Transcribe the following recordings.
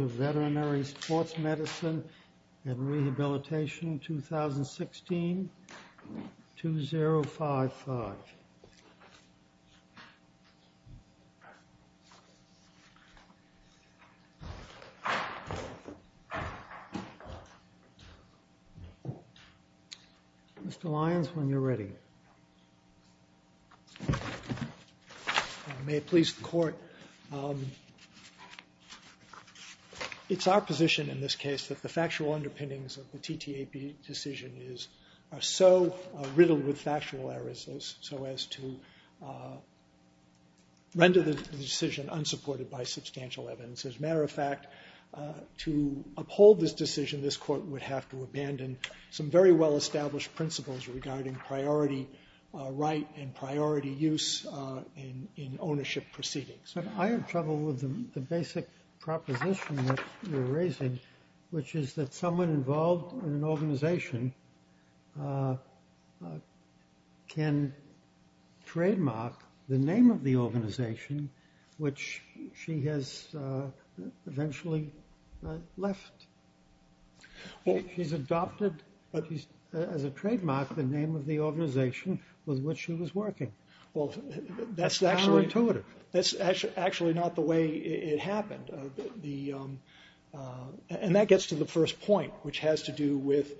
of Veterinary Sports Medicine and Rehabilitation, 2016. Mr. Lyons, when you're ready. May it please the court. It's our position in this case that the factual underpinnings of the TTAP decision are so riddled with factual errors so as to render the decision unsupported by substantial evidence. As a matter of fact, to uphold this decision, this court would have to abandon some very well-established principles regarding priority right and priority use in ownership proceedings. I have trouble with the basic proposition that you're raising, which is that someone involved in an organization can trademark the name of the organization which she has eventually left. She's adopted as a trademark the name of the organization with which she was working. Well, that's actually not the way it happened. And that gets to the first point, which has to do with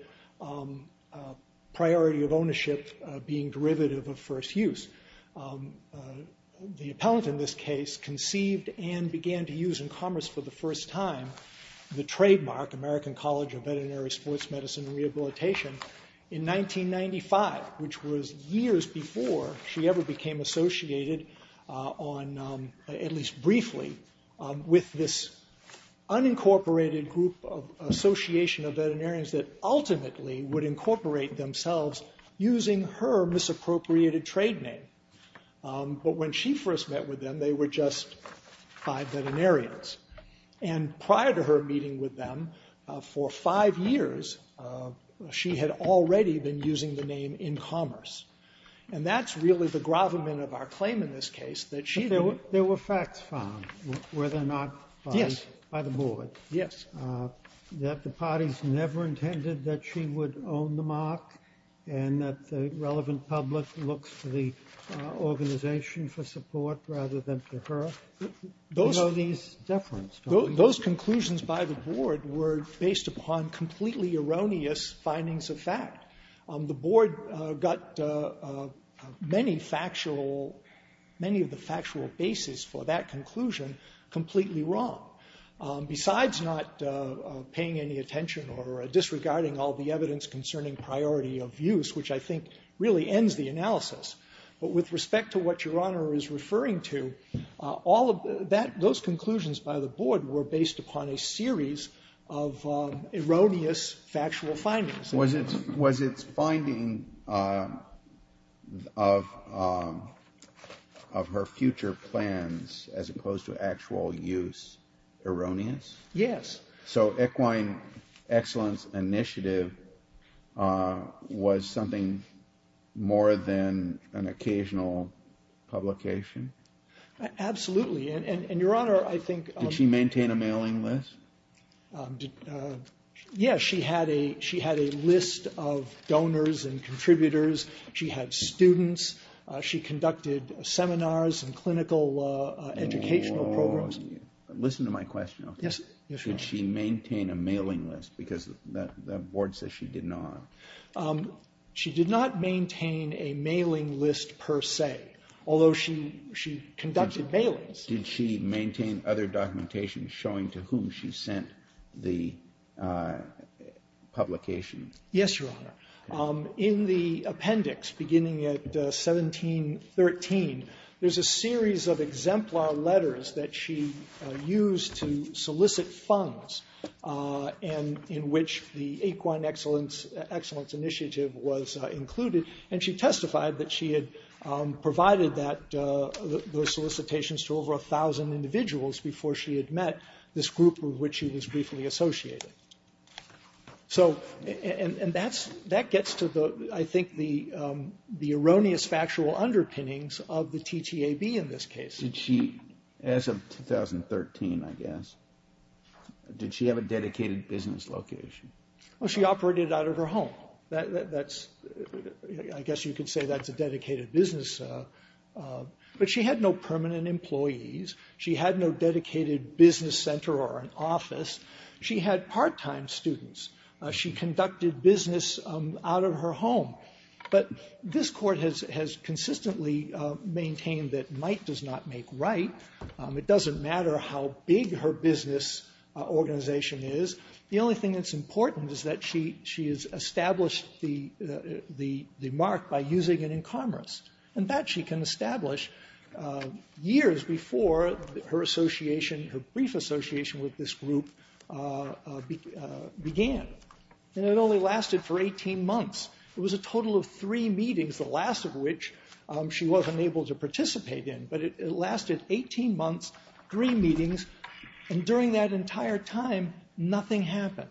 priority of ownership being derivative of first use. The appellant in this case conceived and began to use in commerce for the first time the trademark, American College of Veterinary Sports Medicine and Rehabilitation, in 1995, which was years before she ever became associated, at least briefly, with this unincorporated group of association of veterinarians that ultimately would incorporate themselves using her misappropriated trade name. But when she first met with them, they were just five veterinarians. And prior to her meeting with them, for five years, she had already been using the name in commerce. And that's really the gravamen of our claim in this case, that she didn't. But there were facts found, were there not? Yes. By the board. Yes. That the parties never intended that she would own the mark and that the relevant public looks to the organization for support rather than to her. Those conclusions by the board were based upon completely erroneous findings of fact. The board got many factual, many of the factual basis for that conclusion completely wrong. Besides not paying any attention or disregarding all the evidence concerning priority of use, which I think really ends the analysis. But with respect to what Your Honor is referring to, all of that, those conclusions by the board were based upon a series of erroneous factual findings. Was its finding of her future plans as opposed to actual use erroneous? Yes. So Equine Excellence Initiative was something more than an occasional publication? Absolutely. And Your Honor, I think. Did she maintain a mailing list? Yes. She had a list of donors and contributors. She had students. She conducted seminars and clinical educational programs. Listen to my question. Yes, Your Honor. Did she maintain a mailing list? Because the board says she did not. She did not maintain a mailing list per se, although she conducted mailings. Did she maintain other documentation showing to whom she sent the publication? Yes, Your Honor. In the appendix beginning at 1713, there's a series of exemplar letters that she used to solicit funds and in which the Equine Excellence Initiative was included. And she testified that she had provided those solicitations to over 1,000 individuals before she had met this group of which she was briefly associated. And that gets to, I think, the erroneous factual underpinnings of the TTAB in this case. Did she, as of 2013, I guess, did she have a dedicated business location? Well, she operated out of her home. I guess you could say that's a dedicated business. But she had no permanent employees. She had no dedicated business center or an office. She had part-time students. She conducted business out of her home. But this court has consistently maintained that might does not make right. It doesn't matter how big her business organization is. The only thing that's important is that she has established the mark by using it in commerce. And that she can establish years before her association, her brief association with this group began. And it only lasted for 18 months. It was a total of three meetings, the last of which she wasn't able to participate in. But it lasted 18 months, three meetings. And during that entire time, nothing happened.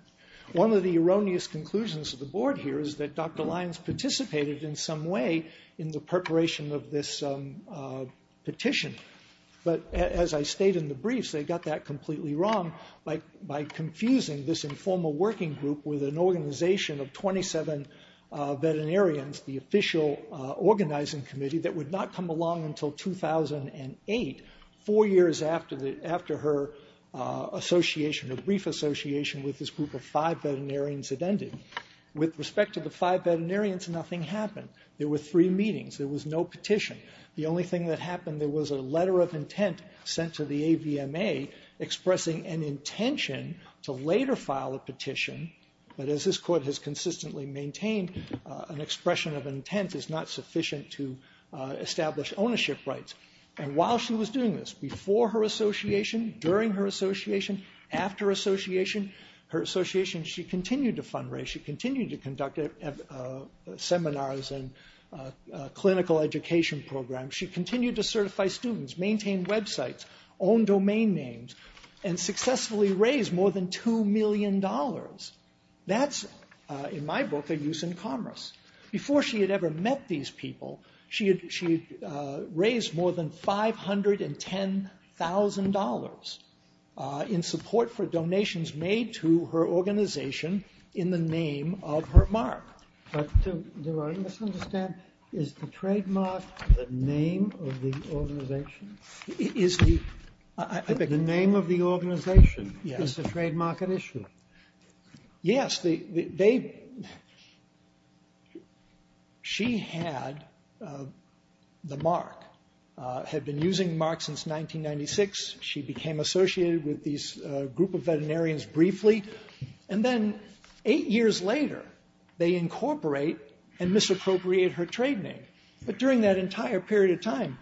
One of the erroneous conclusions of the board here is that Dr. Lyons participated in some way in the preparation of this petition. But as I state in the briefs, they got that completely wrong by confusing this informal working group with an organization of 27 veterinarians, the official organizing committee, that would not come along until 2008, four years after her association, her brief association with this group of five veterinarians had ended. With respect to the five veterinarians, nothing happened. There were three meetings. There was no petition. The only thing that happened, there was a letter of intent sent to the AVMA expressing an intention to later file a petition. But as this court has consistently maintained, an expression of intent is not sufficient to establish ownership rights. And while she was doing this, before her association, during her association, after association, her association, she continued to fundraise. She continued to conduct seminars and clinical education programs. She continued to certify students, maintain websites, own domain names, and successfully raised more than $2 million. That's, in my book, a use in commerce. Before she had ever met these people, she had raised more than $510,000 in support for donations made to her organization in the name of her mark. But do I misunderstand? Is the trademark the name of the organization? The name of the organization is the trademark at issue? Yes. She had the mark, had been using the mark since 1996. She became associated with this group of veterinarians briefly. And then eight years later, they incorporate and misappropriate her trade name. But during that entire period of time,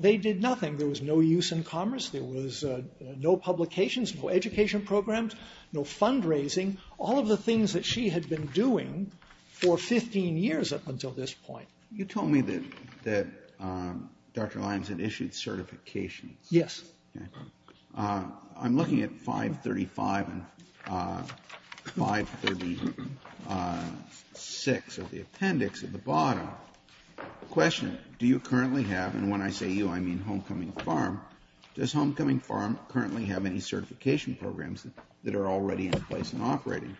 they did nothing. There was no use in commerce. There was no publications, no education programs, no fundraising, all of the things that she had been doing for 15 years up until this point. You told me that Dr. Lyons had issued certifications. Yes. I'm looking at 535 and 536 of the appendix at the bottom. Question, do you currently have, and when I say you, I mean Homecoming Farm, does Homecoming Farm currently have any certification programs that are already in place and operating?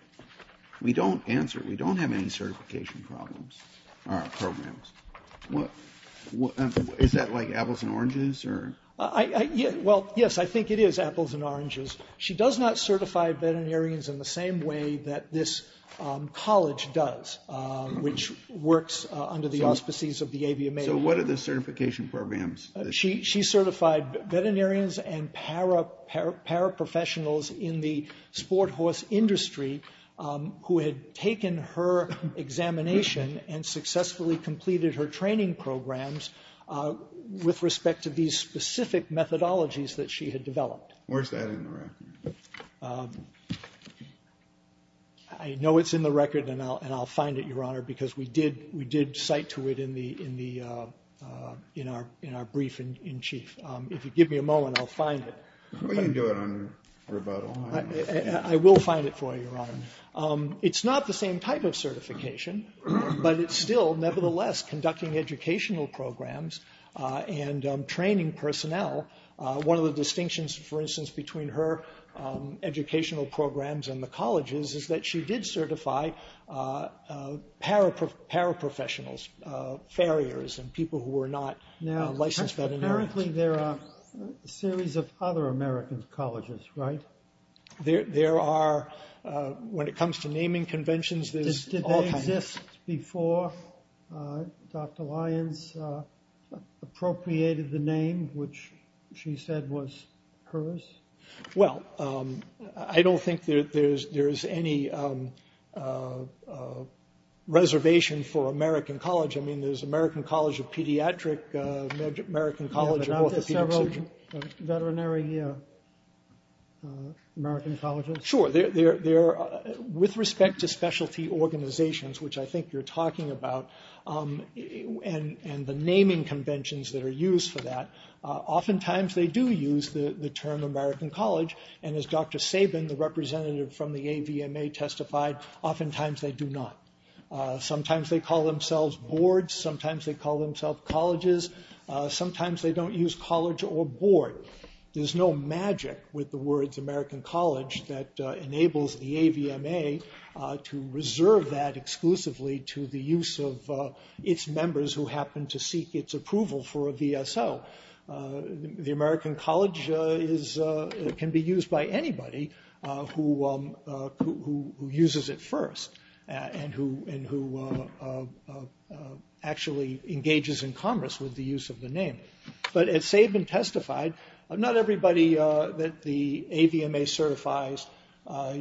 We don't answer. We don't have any certification programs. Is that like apples and oranges? Well, yes, I think it is apples and oranges. She does not certify veterinarians in the same way that this college does, which works under the auspices of the AVMA. So what are the certification programs? She certified veterinarians and paraprofessionals in the sport horse industry who had taken her examination and successfully completed her training programs with respect to these specific methodologies that she had developed. Where's that in the record? I know it's in the record, and I'll find it, Your Honor, because we did cite to it in our brief in chief. If you give me a moment, I'll find it. We can do it on rebuttal. I will find it for you, Your Honor. It's not the same type of certification, but it's still nevertheless conducting educational programs and training personnel. One of the distinctions, for instance, between her educational programs and the colleges is that she did certify paraprofessionals, farriers, and people who were not licensed veterinarians. Apparently there are a series of other American colleges, right? There are. When it comes to naming conventions, there's all kinds. Did they exist before Dr. Lyons appropriated the name, which she said was hers? Well, I don't think there's any reservation for American college. I mean, there's American College of Pediatrics, American College of Orthopedics. Yeah, but aren't there several veterinary American colleges? Sure. With respect to specialty organizations, which I think you're talking about, and the naming conventions that are used for that, oftentimes they do use the term American college, and as Dr. Sabin, the representative from the AVMA, testified, oftentimes they do not. Sometimes they call themselves boards. Sometimes they call themselves colleges. Sometimes they don't use college or board. There's no magic with the words American college that enables the AVMA to reserve that exclusively to the use of its members who happen to seek its approval for a VSO. The American college can be used by anybody who uses it first and who actually engages in commerce with the use of the name. But as Sabin testified, not everybody that the AVMA certifies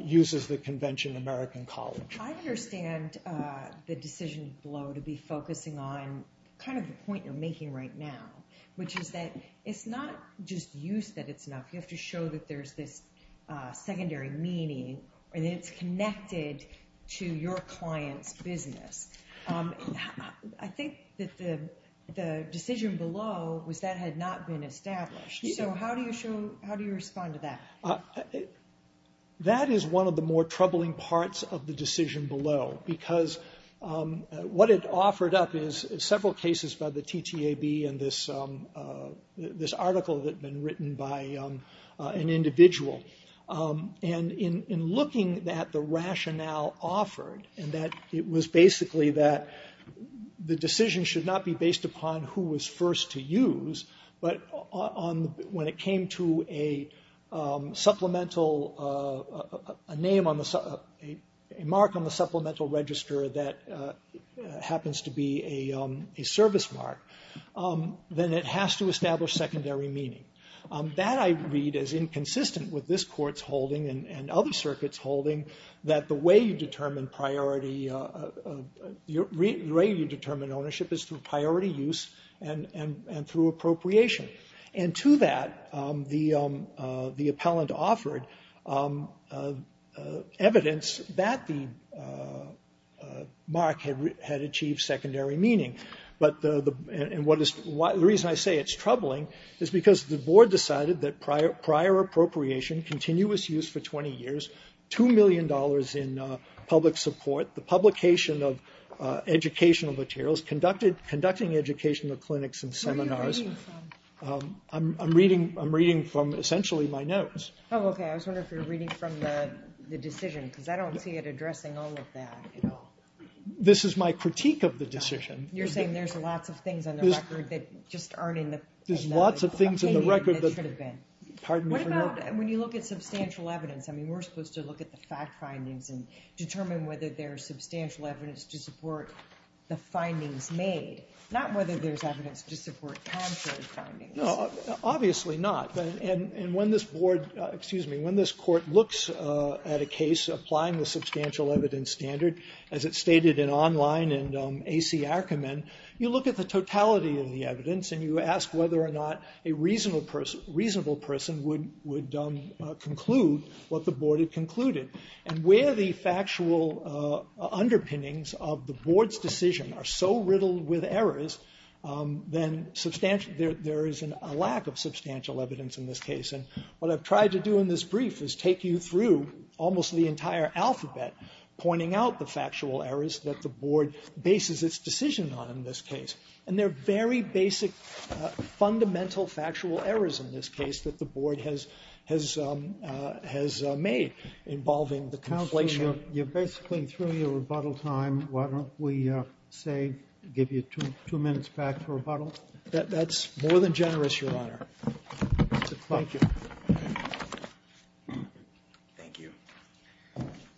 uses the convention American college. I understand the decision below to be focusing on kind of the point you're making right now, which is that it's not just use that it's not. You have to show that there's this secondary meaning and it's connected to your client's business. I think that the decision below was that had not been established. So how do you show, how do you respond to that? That is one of the more troubling parts of the decision below, because what it offered up is several cases by the TTAB and this article that had been written by an individual. And in looking at the rationale offered, and that it was basically that the decision should not be based upon who was first to use, but when it came to a mark on the supplemental register that happens to be a service mark, then it has to establish secondary meaning. That I read as inconsistent with this court's holding and other circuits holding that the way you determine priority, the way you determine ownership is through priority use and through appropriation. And to that, the appellant offered evidence that the mark had achieved secondary meaning. But the reason I say it's troubling is because the board decided that prior appropriation, continuous use for 20 years, $2 million in public support, the publication of educational materials, conducting educational clinics and seminars. Where are you reading from? I'm reading from essentially my notes. Oh, okay. I was wondering if you were reading from the decision, because I don't see it addressing all of that at all. This is my critique of the decision. You're saying there's lots of things on the record that just aren't in the... There's lots of things on the record that... We're supposed to look at substantial evidence. I mean, we're supposed to look at the fact findings and determine whether there's substantial evidence to support the findings made, not whether there's evidence to support contrary findings. No, obviously not. And when this board, excuse me, when this court looks at a case applying the substantial evidence standard, as it's stated in Online and A.C. Archiman, you look at the totality of the evidence and you ask whether or not a reasonable person would conclude what the board had concluded. And where the factual underpinnings of the board's decision are so riddled with errors, then there is a lack of substantial evidence in this case. And what I've tried to do in this brief is take you through almost the entire alphabet, pointing out the factual errors that the board bases its decision on in this case. And there are very basic fundamental factual errors in this case that the board has made involving the calculation. You're basically through your rebuttal time. Why don't we say give you two minutes back for rebuttal? That's more than generous, Your Honor. Thank you. Thank you.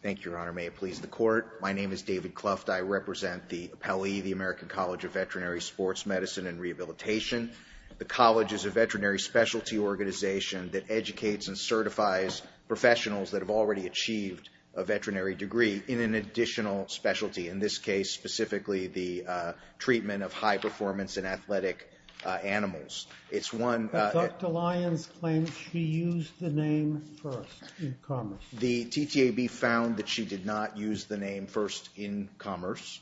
Thank you, Your Honor. May it please the Court. My name is David Cluft. I represent the APALY, the American College of Veterinary Sports Medicine and Rehabilitation. The college is a veterinary specialty organization that educates and certifies professionals that have already achieved a veterinary degree in an additional specialty, in this case, specifically the treatment of high-performance and athletic animals. But Dr. Lyons claims she used the name first in commerce. The TTAB found that she did not use the name first in commerce.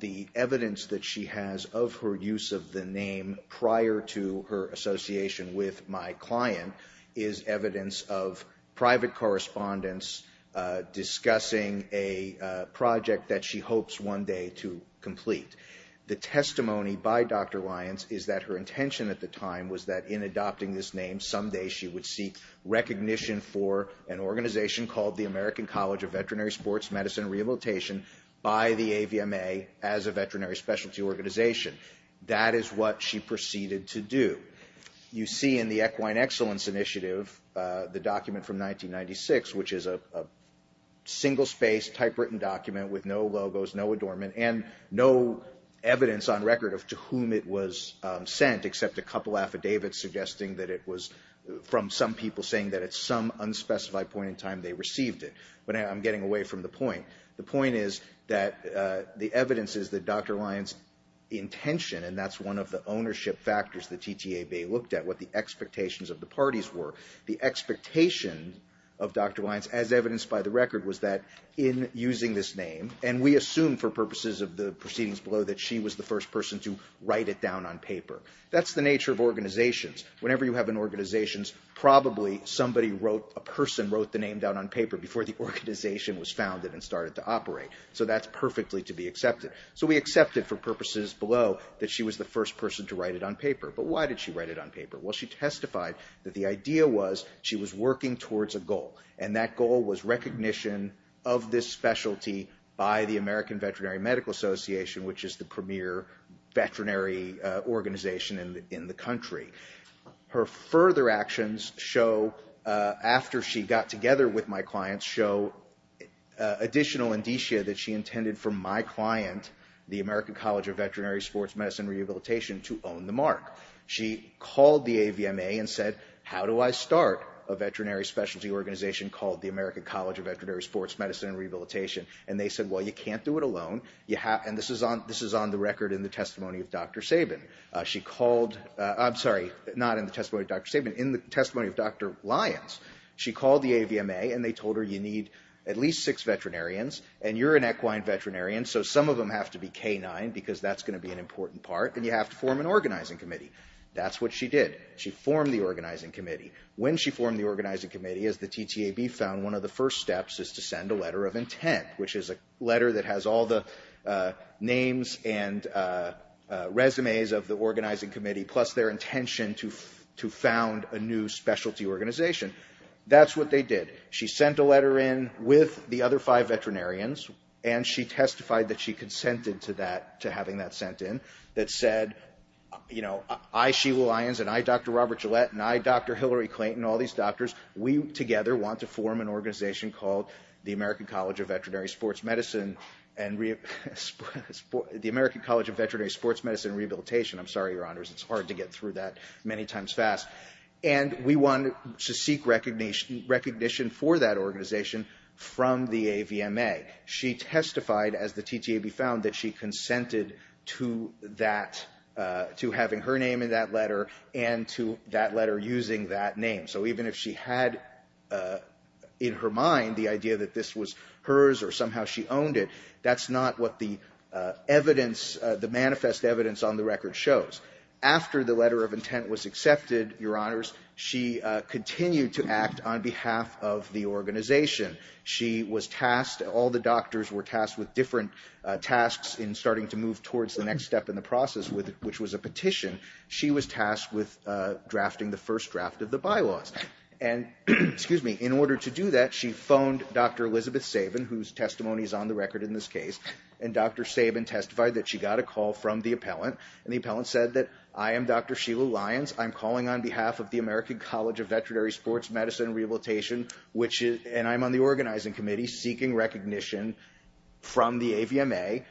The evidence that she has of her use of the name prior to her association with my client is evidence of private correspondents discussing a project that she hopes one day to complete. The testimony by Dr. Lyons is that her intention at the time was that in adopting this name, someday she would seek recognition for an organization called the American College of Veterinary Sports Medicine and Rehabilitation by the AVMA as a veterinary specialty organization. That is what she proceeded to do. You see in the Equine Excellence Initiative the document from 1996, which is a single-space typewritten document with no logos, no adornment, and no evidence on record of to whom it was sent, except a couple affidavits suggesting that it was from some people saying that at some unspecified point in time they received it. But I'm getting away from the point. The point is that the evidence is that Dr. Lyons' intention, and that's one of the ownership factors the TTAB looked at, what the expectations of the parties were. The expectation of Dr. Lyons, as evidenced by the record, was that in using this name, and we assume for purposes of the proceedings below that she was the first person to write it down on paper. That's the nature of organizations. Whenever you have an organization, probably somebody wrote, a person wrote the name down on paper before the organization was founded and started to operate. So that's perfectly to be accepted. So we accept it for purposes below that she was the first person to write it on paper. But why did she write it on paper? Well, she testified that the idea was she was working towards a goal, and that goal was recognition of this specialty by the American Veterinary Medical Association, which is the premier veterinary organization in the country. Her further actions show, after she got together with my clients, show additional indicia that she intended for my client, the American College of Veterinary Sports Medicine and Rehabilitation, to own the mark. She called the AVMA and said, how do I start a veterinary specialty organization called the American College of Veterinary Sports Medicine and Rehabilitation? And they said, well, you can't do it alone. And this is on the record in the testimony of Dr. Sabin. She called, I'm sorry, not in the testimony of Dr. Sabin, in the testimony of Dr. Lyons. She called the AVMA, and they told her you need at least six veterinarians, and you're an equine veterinarian, so some of them have to be canine, because that's going to be an important part, and you have to form an organizing committee. That's what she did. She formed the organizing committee. When she formed the organizing committee, as the TTAB found, one of the first steps is to send a letter of intent, which is a letter that has all the names and resumes of the organizing committee, plus their intention to found a new specialty organization. That's what they did. She sent a letter in with the other five veterinarians, and she testified that she consented to that, to having that sent in, that said, you know, I, Sheila Lyons, and I, Dr. Robert Gillette, and I, Dr. Hillary Clayton, and all these doctors, we together want to form an organization called the American College of Veterinary Sports Medicine and Rehabilitation. I'm sorry, Your Honors, it's hard to get through that many times fast. And we wanted to seek recognition for that organization from the AVMA. She testified, as the TTAB found, that she consented to that, to having her name in that letter and to that letter using that name. So even if she had in her mind the idea that this was hers or somehow she owned it, that's not what the manifest evidence on the record shows. After the letter of intent was accepted, Your Honors, she continued to act on behalf of the organization. She was tasked, all the doctors were tasked with different tasks in starting to move towards the next step in the process, which was a petition. She was tasked with drafting the first draft of the bylaws. And in order to do that, she phoned Dr. Elizabeth Sabin, whose testimony is on the record in this case, and Dr. Sabin testified that she got a call from the appellant, and the appellant said that, I am Dr. Sheila Lyons. I'm calling on behalf of the American College of Veterinary Sports Medicine and Rehabilitation, and I'm on the organizing committee, seeking recognition from the AVMA.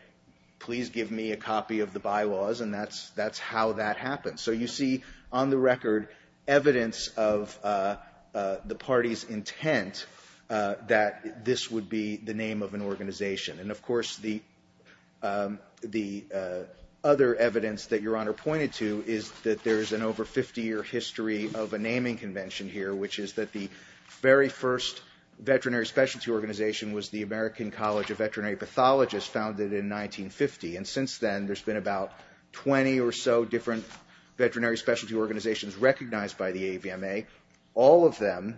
Please give me a copy of the bylaws, and that's how that happened. So you see on the record evidence of the party's intent that this would be the name of an organization. And, of course, the other evidence that Your Honor pointed to is that there is an over 50-year history of a naming convention here, which is that the very first veterinary specialty organization was the American College of Veterinary Pathologists, founded in 1950. And since then, there's been about 20 or so different veterinary specialty organizations recognized by the AVMA. All of them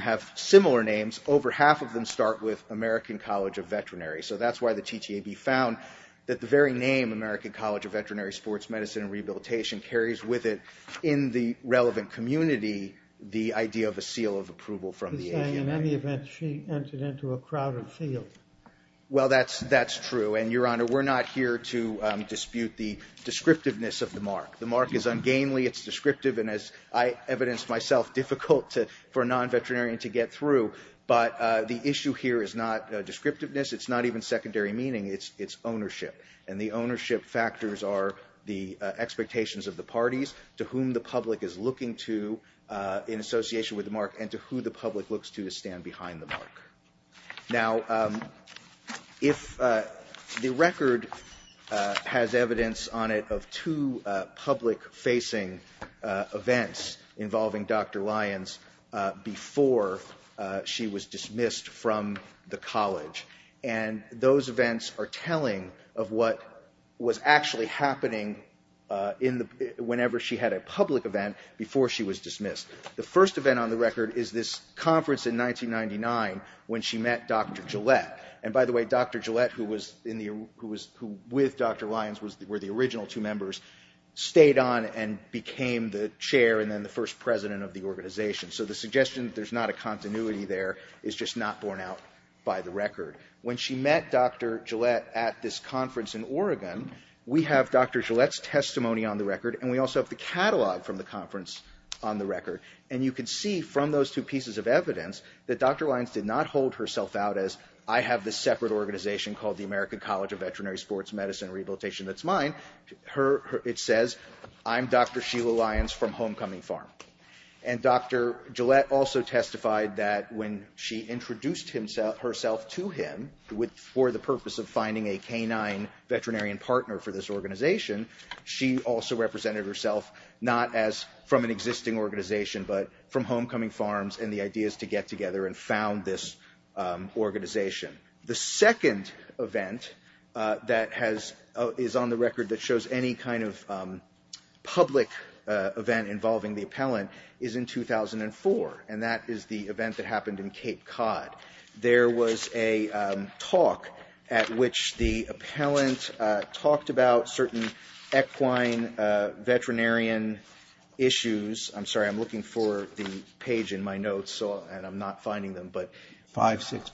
have similar names. Over half of them start with American College of Veterinary. So that's why the TTAB found that the very name, American College of Veterinary Sports Medicine and Rehabilitation, carries with it in the relevant community the idea of a seal of approval from the AVMA. In any event, she entered into a crowded field. Well, that's true. And, Your Honor, we're not here to dispute the descriptiveness of the mark. The mark is ungainly. It's descriptive. And as I evidenced myself, difficult for a non-veterinarian to get through. But the issue here is not descriptiveness. It's not even secondary meaning. It's ownership. And the ownership factors are the expectations of the parties, to whom the public is looking to in association with the mark, and to who the public looks to to stand behind the mark. Now, the record has evidence on it of two public-facing events involving Dr. Lyons before she was dismissed from the college. And those events are telling of what was actually happening whenever she had a public event before she was dismissed. The first event on the record is this conference in 1999 when she met Dr. Gillette. And, by the way, Dr. Gillette, who was with Dr. Lyons, were the original two members, stayed on and became the chair and then the first president of the organization. So the suggestion that there's not a continuity there is just not borne out by the record. When she met Dr. Gillette at this conference in Oregon, we have Dr. Gillette's testimony on the record, and we also have the catalog from the conference on the record. And you can see from those two pieces of evidence that Dr. Lyons did not hold herself out as, I have this separate organization called the American College of Veterinary Sports Medicine Rehabilitation that's mine. It says, I'm Dr. Sheila Lyons from Homecoming Farm. And Dr. Gillette also testified that when she introduced herself to him for the purpose of finding a canine veterinarian partner for this organization, she also represented herself not as from an existing organization but from Homecoming Farms and the ideas to get together and found this organization. The second event that is on the record that shows any kind of public event involving the appellant is in 2004, and that is the event that happened in Cape Cod. There was a talk at which the appellant talked about certain equine veterinarian issues. I'm sorry, I'm looking for the page in my notes, and I'm not finding them. That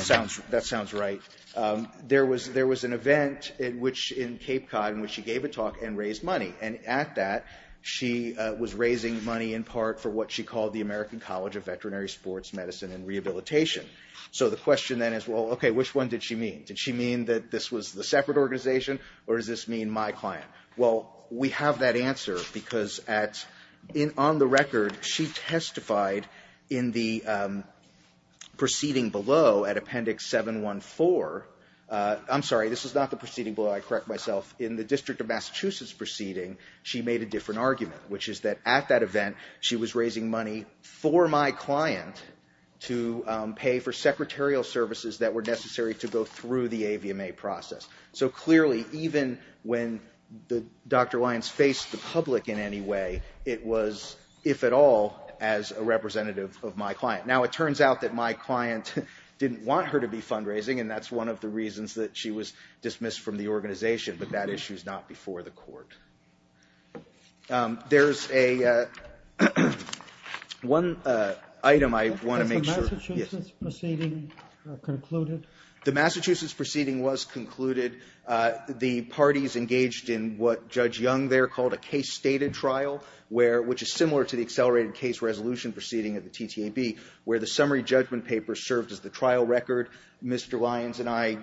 sounds right. There was an event in Cape Cod in which she gave a talk and raised money, and at that she was raising money in part for what she called the American College of Veterinary Sports Medicine and Rehabilitation. So the question then is, well, okay, which one did she mean? Did she mean that this was the separate organization, or does this mean my client? Well, we have that answer because on the record she testified in the proceeding below at Appendix 714. I'm sorry, this is not the proceeding below. I correct myself. In the District of Massachusetts proceeding, she made a different argument, which is that at that event she was raising money for my client to pay for secretarial services that were necessary to go through the AVMA process. So clearly, even when Dr. Lyons faced the public in any way, it was, if at all, as a representative of my client. Now, it turns out that my client didn't want her to be fundraising, and that's one of the reasons that she was dismissed from the organization, but that issue's not before the court. There's one item I want to make sure— Has the Massachusetts proceeding concluded? The Massachusetts proceeding was concluded. The parties engaged in what Judge Young there called a case-stated trial, which is similar to the accelerated case resolution proceeding at the TTAB, where the summary judgment paper served as the trial record. Mr. Lyons and I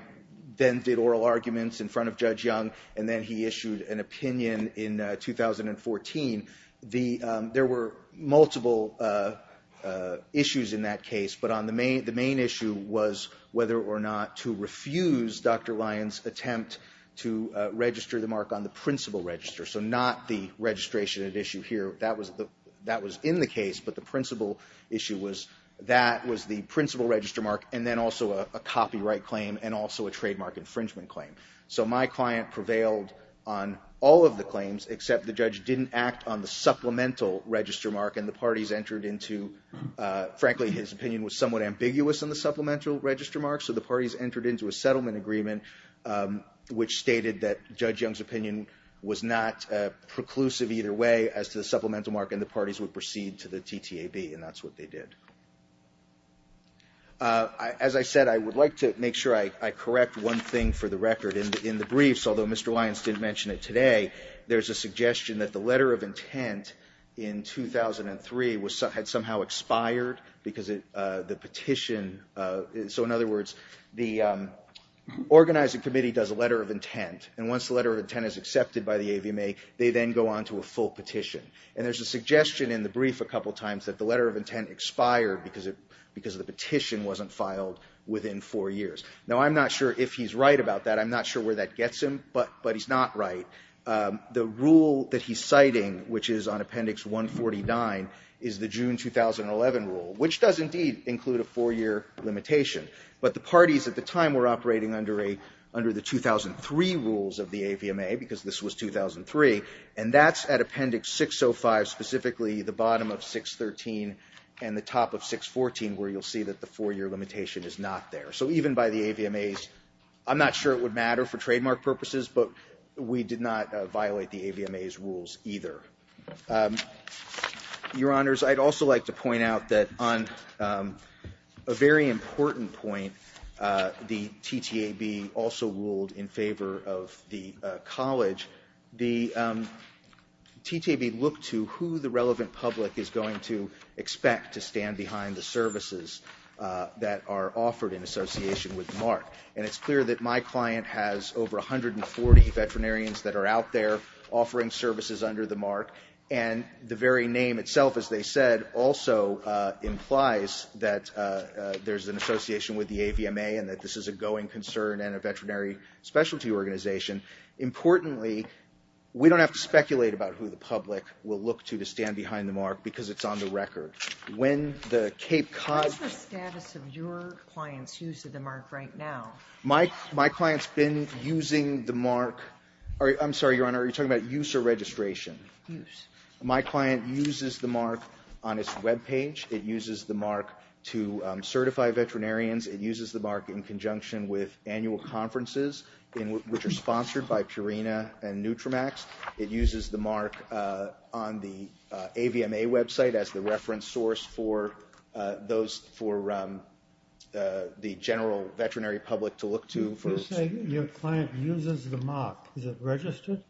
then did oral arguments in front of Judge Young, and then he issued an opinion in 2014. There were multiple issues in that case, but the main issue was whether or not to refuse Dr. Lyons' attempt to register the mark on the principal register, so not the registration at issue here. That was in the case, but the principal issue was that was the principal register mark, and then also a copyright claim and also a trademark infringement claim. So my client prevailed on all of the claims, except the judge didn't act on the supplemental register mark, and the parties entered into—frankly, his opinion was somewhat ambiguous on the supplemental register mark, so the parties entered into a settlement agreement, which stated that Judge Young's opinion was not preclusive either way as to the supplemental mark, and the parties would proceed to the TTAB, and that's what they did. As I said, I would like to make sure I correct one thing for the record. In the briefs, although Mr. Lyons didn't mention it today, there's a suggestion that the letter of intent in 2003 had somehow expired because the petition— so in other words, the organizing committee does a letter of intent, and once the letter of intent is accepted by the AVMA, they then go on to a full petition, and there's a suggestion in the brief a couple times that the letter of intent expired because the petition wasn't filed within four years. Now, I'm not sure if he's right about that. I'm not sure where that gets him, but he's not right. The rule that he's citing, which is on Appendix 149, is the June 2011 rule, which does indeed include a four-year limitation, but the parties at the time were operating under the 2003 rules of the AVMA because this was 2003, and that's at Appendix 605, specifically the bottom of 613 and the top of 614, where you'll see that the four-year limitation is not there. So even by the AVMA's—I'm not sure it would matter for trademark purposes, but we did not violate the AVMA's rules either. Your Honors, I'd also like to point out that on a very important point, the TTAB also ruled in favor of the college. The TTAB looked to who the relevant public is going to expect to stand behind the services that are offered in association with the mark, and it's clear that my client has over 140 veterinarians that are out there offering services under the mark, and the very name itself, as they said, also implies that there's an association with the AVMA and that this is a going concern and a veterinary specialty organization. Importantly, we don't have to speculate about who the public will look to to stand behind the mark because it's on the record. When the Cape Cod— What is the status of your client's use of the mark right now? My client's been using the mark—I'm sorry, Your Honor, are you talking about use or registration? Use. My client uses the mark on its webpage. It uses the mark to certify veterinarians. It uses the mark in conjunction with annual conferences, which are sponsored by Purina and Nutramax. It uses the mark on the AVMA website as the reference source for the general veterinary public to look to. You say your client uses the mark. Is it registered?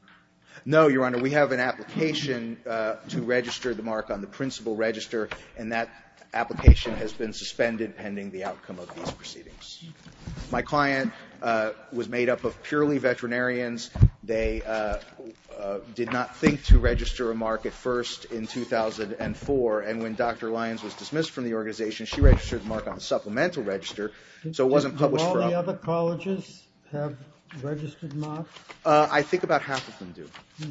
No, Your Honor. We have an application to register the mark on the principal register, and that application has been suspended pending the outcome of these proceedings. My client was made up of purely veterinarians. They did not think to register a mark at first in 2004, and when Dr. Lyons was dismissed from the organization, she registered the mark on the supplemental register, so it wasn't published for— Do all the other colleges have registered marks? I think about half of them do.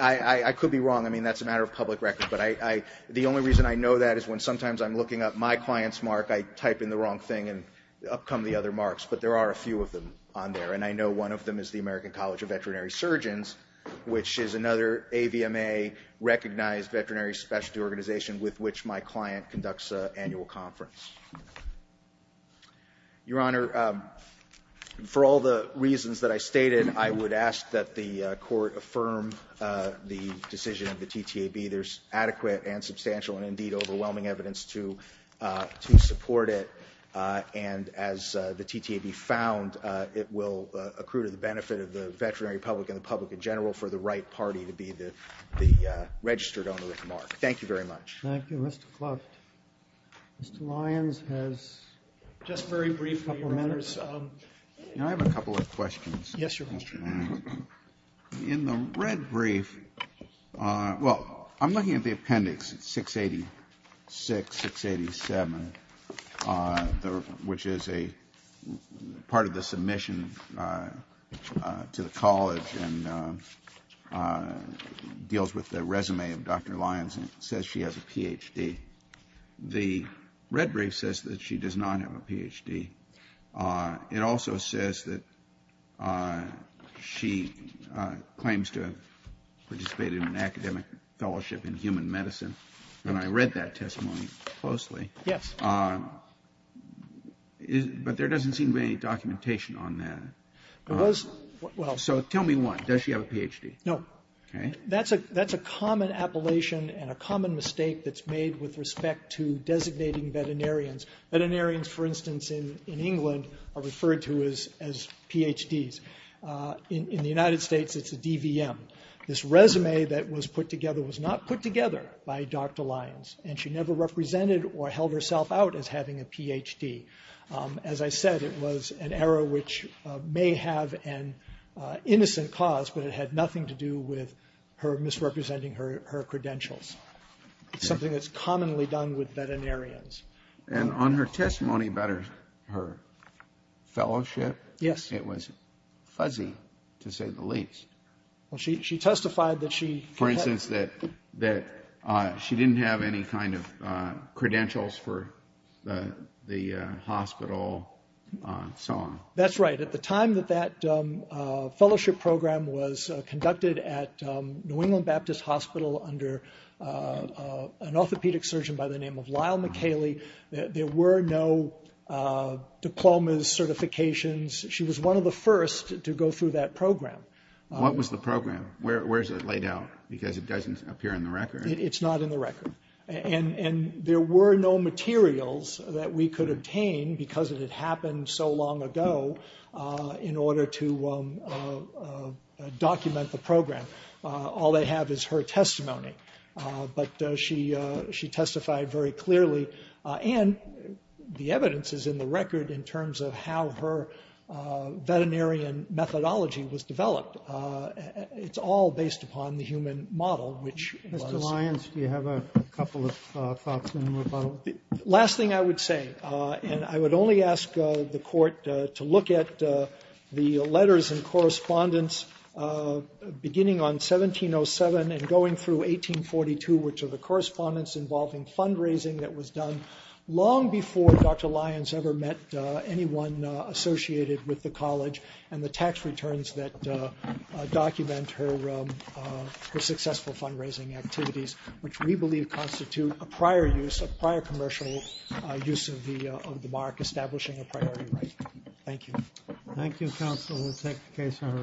I could be wrong. I mean, that's a matter of public record, but the only reason I know that is when sometimes I'm looking up my client's mark, I type in the wrong thing and up come the other marks, but there are a few of them on there, and I know one of them is the American College of Veterinary Surgeons, which is another AVMA-recognized veterinary specialty organization with which my client conducts an annual conference. Your Honor, for all the reasons that I stated, I would ask that the court affirm the decision of the TTAB. There's adequate and substantial and, indeed, overwhelming evidence to support it, and as the TTAB found, it will accrue to the benefit of the veterinary public and the public in general for the right party to be the registered owner of the mark. Thank you very much. Thank you. Mr. Clark. Mr. Lyons has just very brief couple of minutes. May I have a couple of questions? Yes, Your Honor. In the red brief, well, I'm looking at the appendix 686, 687, which is a part of the submission to the college and deals with the resume of Dr. Lyons, and it says she has a Ph.D. The red brief says that she does not have a Ph.D. It also says that she claims to have participated in an academic fellowship in human medicine, and I read that testimony closely. Yes. But there doesn't seem to be any documentation on that. So tell me one. Does she have a Ph.D.? No. Okay. That's a common appellation and a common mistake that's made with respect to designating veterinarians. Veterinarians, for instance, in England are referred to as Ph.D.s. In the United States, it's a DVM. This resume that was put together was not put together by Dr. Lyons, and she never represented or held herself out as having a Ph.D. As I said, it was an era which may have an innocent cause, but it had nothing to do with her misrepresenting her credentials. It's something that's commonly done with veterinarians. And on her testimony about her fellowship, it was fuzzy, to say the least. Well, she testified that she had... For instance, that she didn't have any kind of credentials for the hospital and so on. That's right. At the time that that fellowship program was conducted at New England Baptist Hospital under an orthopedic surgeon by the name of Lyle McHaley, there were no diplomas, certifications. She was one of the first to go through that program. What was the program? Where is it laid out? Because it doesn't appear in the record. It's not in the record. And there were no materials that we could obtain because it had happened so long ago in order to document the program. All they have is her testimony. But she testified very clearly. And the evidence is in the record in terms of how her veterinarian methodology was developed. It's all based upon the human model, which was... Last thing I would say, and I would only ask the Court to look at the letters and correspondence beginning on 1707 and going through 1842, which are the correspondence involving fundraising that was done long before Dr. Lyons ever met anyone associated with the college and the tax returns that document her successful fundraising activities, which we believe constitute a prior use, a prior commercial use of the mark, establishing a priority right. Thank you. Thank you, counsel. We'll take the case under advisement.